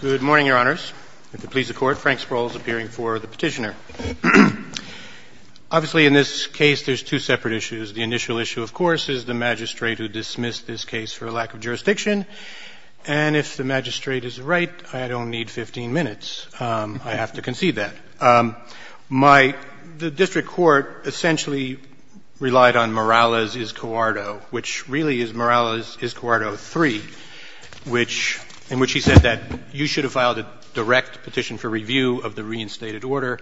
Good morning, Your Honors. If it pleases the Court, Frank Sproul is appearing for the petitioner. Obviously, in this case, there's two separate issues. The initial issue, of course, is the magistrate who dismissed this case for lack of jurisdiction. And if the magistrate is right, I don't need 15 minutes. I have to concede that. My – the district court essentially relied on Morales-Izcuarto, which really is Morales-Izcuarto III. Which – in which he said that you should have filed a direct petition for review of the reinstated order,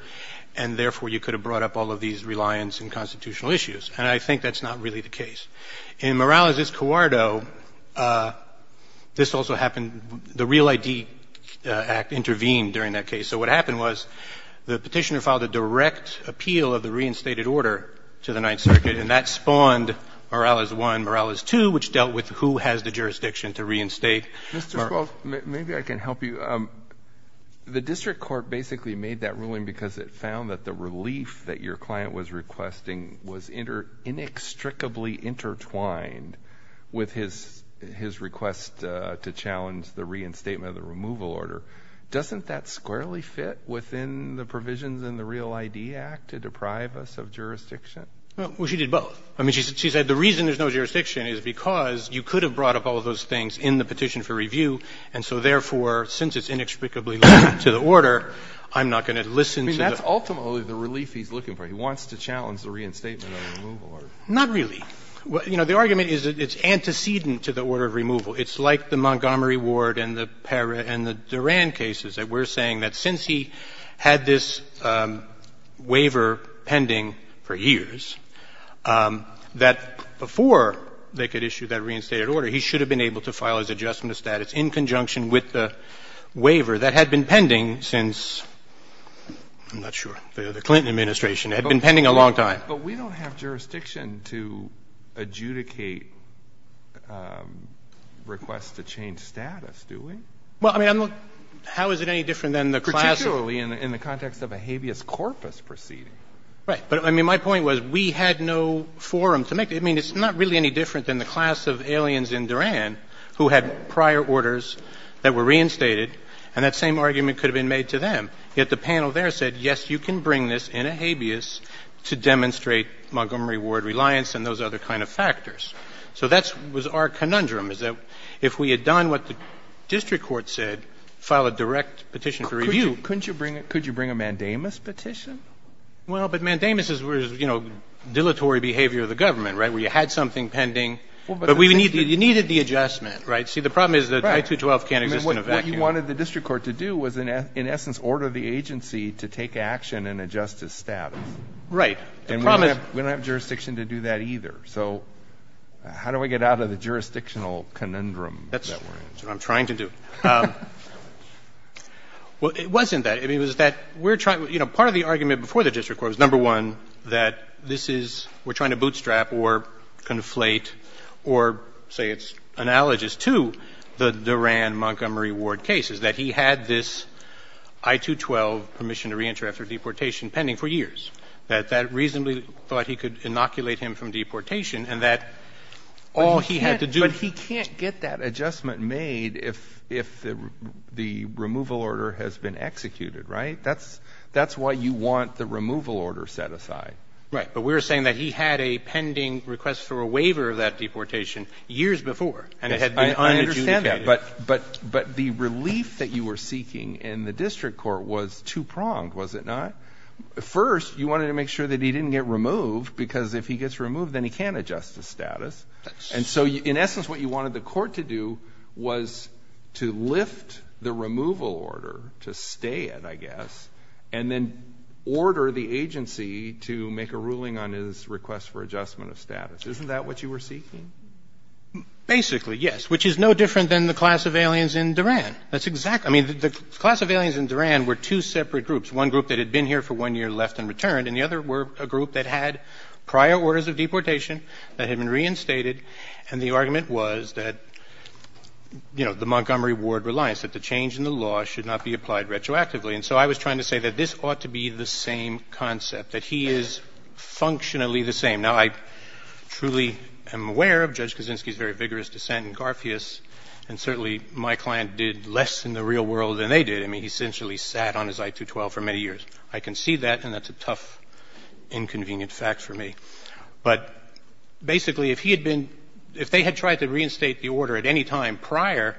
and therefore, you could have brought up all of these reliance and constitutional issues, and I think that's not really the case. In Morales-Izcuarto, this also happened – the Real ID Act intervened during that case. So what happened was the petitioner filed a direct appeal of the reinstated order to the Ninth Circuit, and that spawned Morales I, Morales II, which dealt with who has the jurisdiction to reinstate. Mr. Schwartz, maybe I can help you. The district court basically made that ruling because it found that the relief that your client was requesting was inextricably intertwined with his – his request to challenge the reinstatement of the removal order. Doesn't that squarely fit within the provisions in the Real ID Act to deprive us of jurisdiction? Well, she did both. I mean, she said the reason there's no jurisdiction is because you could have brought up all of those things in the petition for review, and so therefore, since it's inextricably linked to the order, I'm not going to listen to the order. I mean, that's ultimately the relief he's looking for. He wants to challenge the reinstatement of the removal order. Not really. You know, the argument is that it's antecedent to the order of removal. It's like the Montgomery Ward and the Duran cases, that we're saying that since he had this waiver pending for years, that before they could issue that reinstated order, he should have been able to file his adjustment of status in conjunction with the waiver that had been pending since, I'm not sure, the Clinton administration. It had been pending a long time. But we don't have jurisdiction to adjudicate requests to change status, do we? Well, I mean, I'm not — how is it any different than the class of — Particularly in the context of a habeas corpus proceeding. Right. But, I mean, my point was we had no forum to make it. I mean, it's not really any different than the class of aliens in Duran who had prior orders that were reinstated, and that same argument could have been made to them. Yet the panel there said, yes, you can bring this in a habeas to demonstrate Montgomery Ward reliance and those other kind of factors. So that was our conundrum, is that if we had done what the district court said, file a direct petition for review — Couldn't you bring a mandamus petition? Well, but mandamus is, you know, dilatory behavior of the government, right, where you had something pending, but we needed — you needed the adjustment, right? See, the problem is that I-212 can't exist in a vacuum. Right. I mean, what you wanted the district court to do was, in essence, order the agency to take action and adjust his status. Right. And we don't have jurisdiction to do that either. So how do we get out of the jurisdictional conundrum that we're in? That's what I'm trying to do. Well, it wasn't that. I mean, it was that we're trying — you know, part of the argument before the district court was, number one, that this is — we're trying to bootstrap or conflate or, say, it's analogous to the Duran-Montgomery Ward case, is that he had this I-212 permission to reenter after deportation pending for years, that that reasonably thought he could inoculate him from deportation, and that all he had to do — But he can't — but he can't get that adjustment made if the removal order has been executed, right? That's — that's why you want the removal order set aside. Right. But we were saying that he had a pending request for a waiver of that deportation years before, and it had been unadjudicated. Yes, I understand that, but the relief that you were seeking in the district court was two-pronged, was it not? First, you wanted to make sure that he didn't get removed, because if he gets removed, then he can't adjust his status. And so, in essence, what you wanted the court to do was to lift the removal order to stay it, I guess, and then order the agency to make a ruling on his request for adjustment of status. Isn't that what you were seeking? Basically, yes, which is no different than the class of aliens in Duran. That's exactly — I mean, the class of aliens in Duran were two separate groups, one group that had been here for one year, left, and returned, and the other were a group that had prior orders of deportation that had been reinstated, and the argument was that, you know, the Montgomery Ward reliance, that the change in the law should not be applied retroactively. And so I was trying to say that this ought to be the same concept, that he is functionally the same. Now, I truly am aware of Judge Kaczynski's very vigorous dissent in Garfious, and certainly my client did less in the real world than they did. I mean, he essentially sat on his I-212 for many years. I can see that, and that's a tough, inconvenient fact for me. But basically, if he had been — if they had tried to reinstate the order at any time prior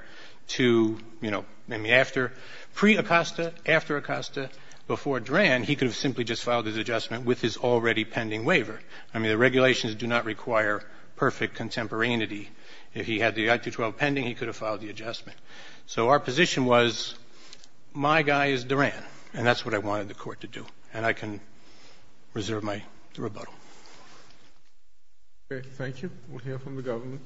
to, you know, maybe after — pre-Acosta, after Acosta, before Duran, he could have simply just filed his adjustment with his already pending waiver. I mean, the regulations do not require perfect contemporaneity. If he had the I-212 pending, he could have filed the adjustment. So our position was, my guy is Duran, and that's what I wanted the Court to do. And I can reserve my rebuttal. Okay. Thank you. We'll hear from the government.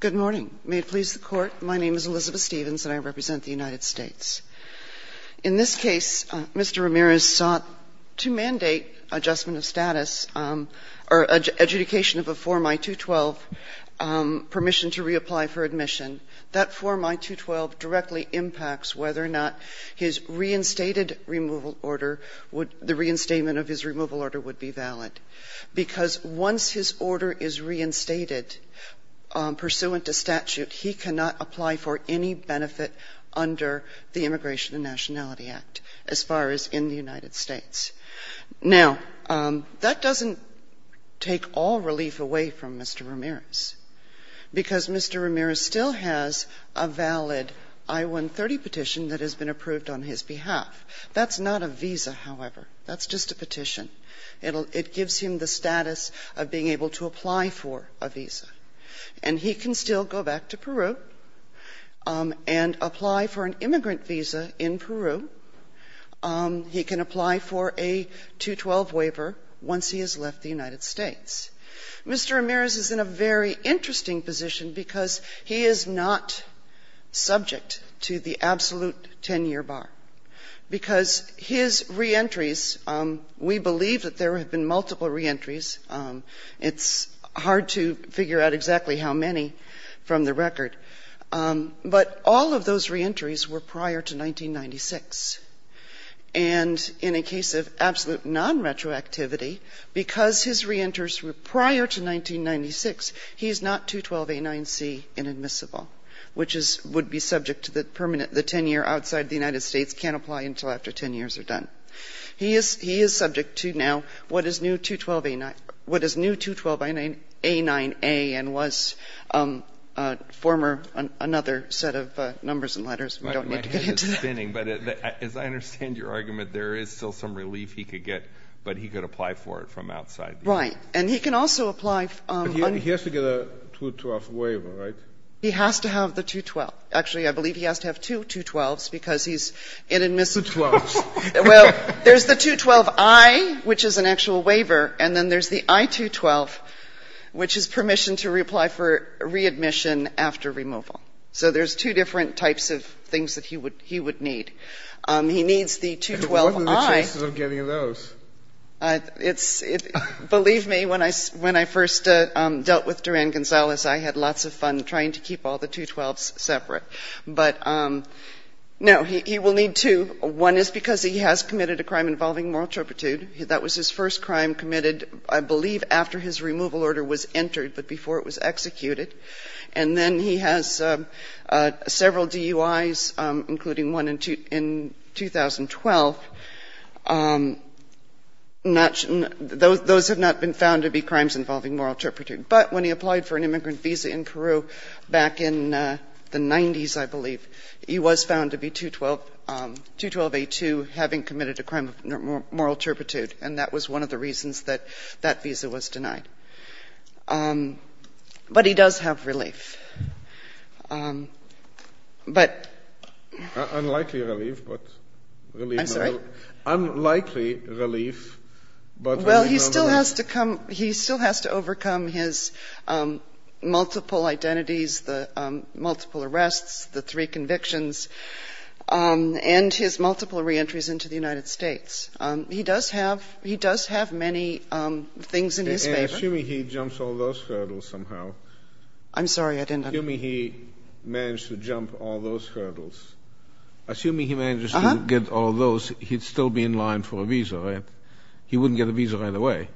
Good morning. May it please the Court. My name is Elizabeth Stevens, and I represent the United States. In this case, Mr. Ramirez sought to mandate adjustment of status or adjudication of a form I-212 permission to reapply for admission. That form I-212 directly impacts whether or not his reinstated removal order would — the reinstatement of his removal order would be valid, because once his order is reinstated pursuant to statute, he cannot apply for any benefit under the institution of the Immigration and Nationality Act as far as in the United States. Now, that doesn't take all relief away from Mr. Ramirez, because Mr. Ramirez still has a valid I-130 petition that has been approved on his behalf. That's not a visa, however. That's just a petition. It gives him the status of being able to apply for a visa. And he can still go back to Peru and apply for an immigrant visa in Peru. He can apply for a I-212 waiver once he has left the United States. Mr. Ramirez is in a very interesting position because he is not subject to the absolute 10-year bar, because his reentries — we believe that there have been multiple reentries. It's hard to figure out exactly how many from the record. But all of those reentries were prior to 1996. And in a case of absolute non-retroactivity, because his reenters were prior to 1996, he is not 212a9c inadmissible, which would be subject to the permanent — the 10-year outside the United States can't apply until after 10 years are done. He is — he is subject to now what is new 212a9 — what is new 212a9a and was a former — another set of numbers and letters. We don't need to get into that. But my head is spinning. But as I understand your argument, there is still some relief he could get, but he could apply for it from outside the U.S. Right. And he can also apply — But he has to get a 212 waiver, right? He has to have the 212. Actually, I believe he has to have two 212s because he's inadmissible. Two 12s. Well, there's the 212-I, which is an actual waiver, and then there's the I-212, which is permission to reply for readmission after removal. So there's two different types of things that he would — he would need. He needs the 212-I. But what are the chances of getting those? It's — believe me, when I — when I first dealt with Duran-Gonzalez, I had lots of fun trying to keep all the 212s separate. But no, he will need two. One is because he has committed a crime involving moral turpitude. That was his first crime committed, I believe, after his removal order was entered, but before it was executed. And then he has several DUIs, including one in 2012. Those have not been found to be crimes involving moral turpitude. But when he applied for an immigrant visa in Peru back in the 90s, I believe, he was found to be 212 — 212-A2, having committed a crime of moral turpitude. And that was one of the reasons that that visa was denied. But he does have relief. UNIDENTIFIED MALE SPEAKER Unlikely relief, but relief — UNIDENTIFIED FEMALE SPEAKER I'm sorry? UNIDENTIFIED MALE SPEAKER Unlikely relief, but relief — UNIDENTIFIED FEMALE SPEAKER Well, he still has to come — he still has to overcome his multiple identities, the multiple arrests, the three convictions, and his multiple reentries into the United States. He does have — he does have many things in his favor. UNIDENTIFIED MALE SPEAKER Assuming he jumps all those hurdles somehow — UNIDENTIFIED FEMALE SPEAKER I'm sorry, I didn't understand. UNIDENTIFIED MALE SPEAKER Assuming he managed to jump all those hurdles. Assuming he managed to get all those, he'd still be in line for a visa, right? He wouldn't get a visa right away.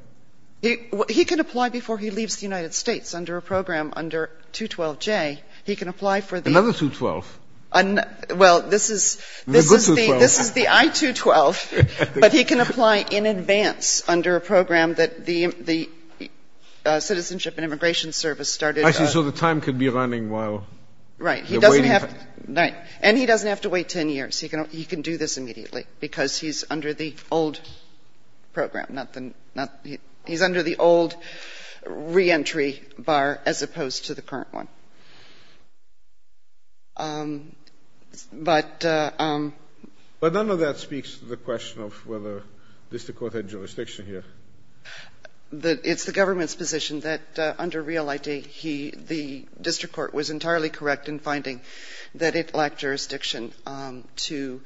UNIDENTIFIED FEMALE SPEAKER He can apply before he leaves the United States under a program under 212J. He can apply for the — UNIDENTIFIED MALE SPEAKER Another 212. UNIDENTIFIED FEMALE SPEAKER Well, this is — UNIDENTIFIED MALE SPEAKER The good 212. UNIDENTIFIED FEMALE SPEAKER This is the I-212. But he can apply in advance under a program that the Citizenship and Immigration Service started. UNIDENTIFIED MALE SPEAKER I see. So the time could be running while you're waiting. UNIDENTIFIED FEMALE SPEAKER Right. He doesn't have to — right. And he doesn't have to wait 10 years. He can do this immediately because he's under the old program, not the — he's under the old reentry bar as opposed to the current one. But — UNIDENTIFIED MALE SPEAKER But none of that speaks to the question of whether district court had jurisdiction here. UNIDENTIFIED FEMALE SPEAKER It's the government's position that under the district court was entirely correct in finding that it lacked jurisdiction to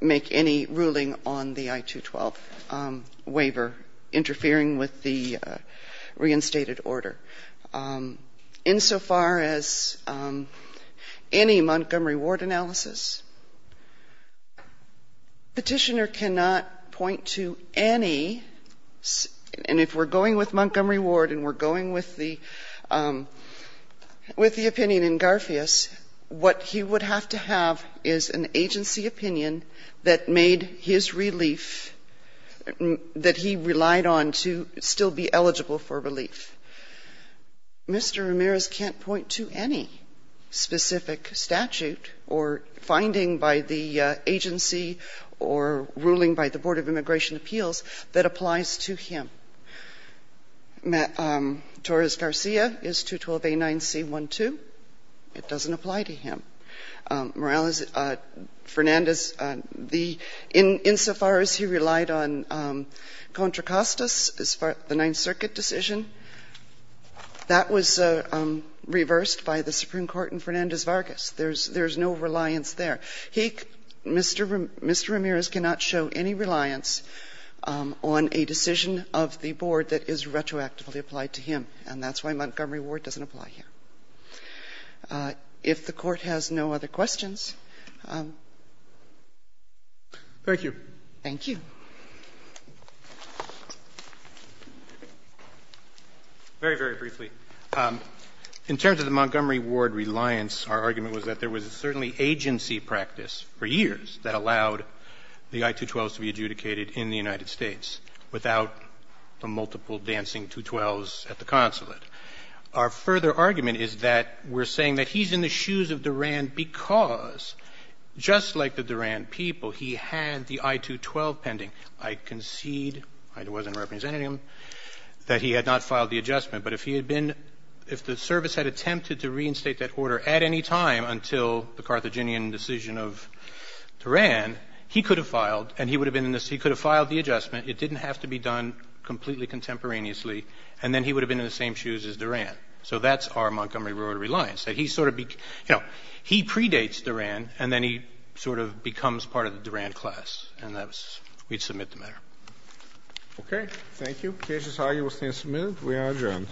make any ruling on the I-212 waiver interfering with the reinstated order. Insofar as any Montgomery Ward analysis, Petitioner cannot point to any — and if we're going with Montgomery Ward and we're going with the opinion in Garfious, what he would have to have is an agency opinion that made his relief — that he relied on to still be eligible for relief. Mr. Ramirez can't point to any specific statute or finding by the agency or ruling by the Torres-Garcia is 212A9C12. It doesn't apply to him. Morales — Fernandez, the — insofar as he relied on Contra Costa's — the Ninth Circuit decision, that was reversed by the Supreme Court in Fernandez-Vargas. There's no reliance there. He — Mr. — Mr. Ramirez cannot show any reliance on a decision of the board that is retroactively applied to him, and that's why Montgomery Ward doesn't apply here. If the Court has no other questions. Roberts. Thank you. Thank you. Very, very briefly. In terms of the Montgomery Ward reliance, our argument was that there was certainly agency practice for years that allowed the I-212s to be adjudicated in the United States without the multiple dancing 212s at the consulate. Our further argument is that we're saying that he's in the shoes of Duran because, just like the Duran people, he had the I-212 pending. I concede — I wasn't representing him — that he had not filed the adjustment, but if he had been — if the service had attempted to reinstate that order at any time until the Carthaginian decision of Duran, he could have filed, and he would have been in the — he could have filed the adjustment. It didn't have to be done completely contemporaneously, and then he would have been in the same shoes as Duran. So that's our Montgomery Ward reliance, that he sort of — you know, he predates Duran, and then he sort of becomes part of the Duran class, and that was — we'd submit the matter. Okay. Thank you. Thank you. The case is highly resuscitated.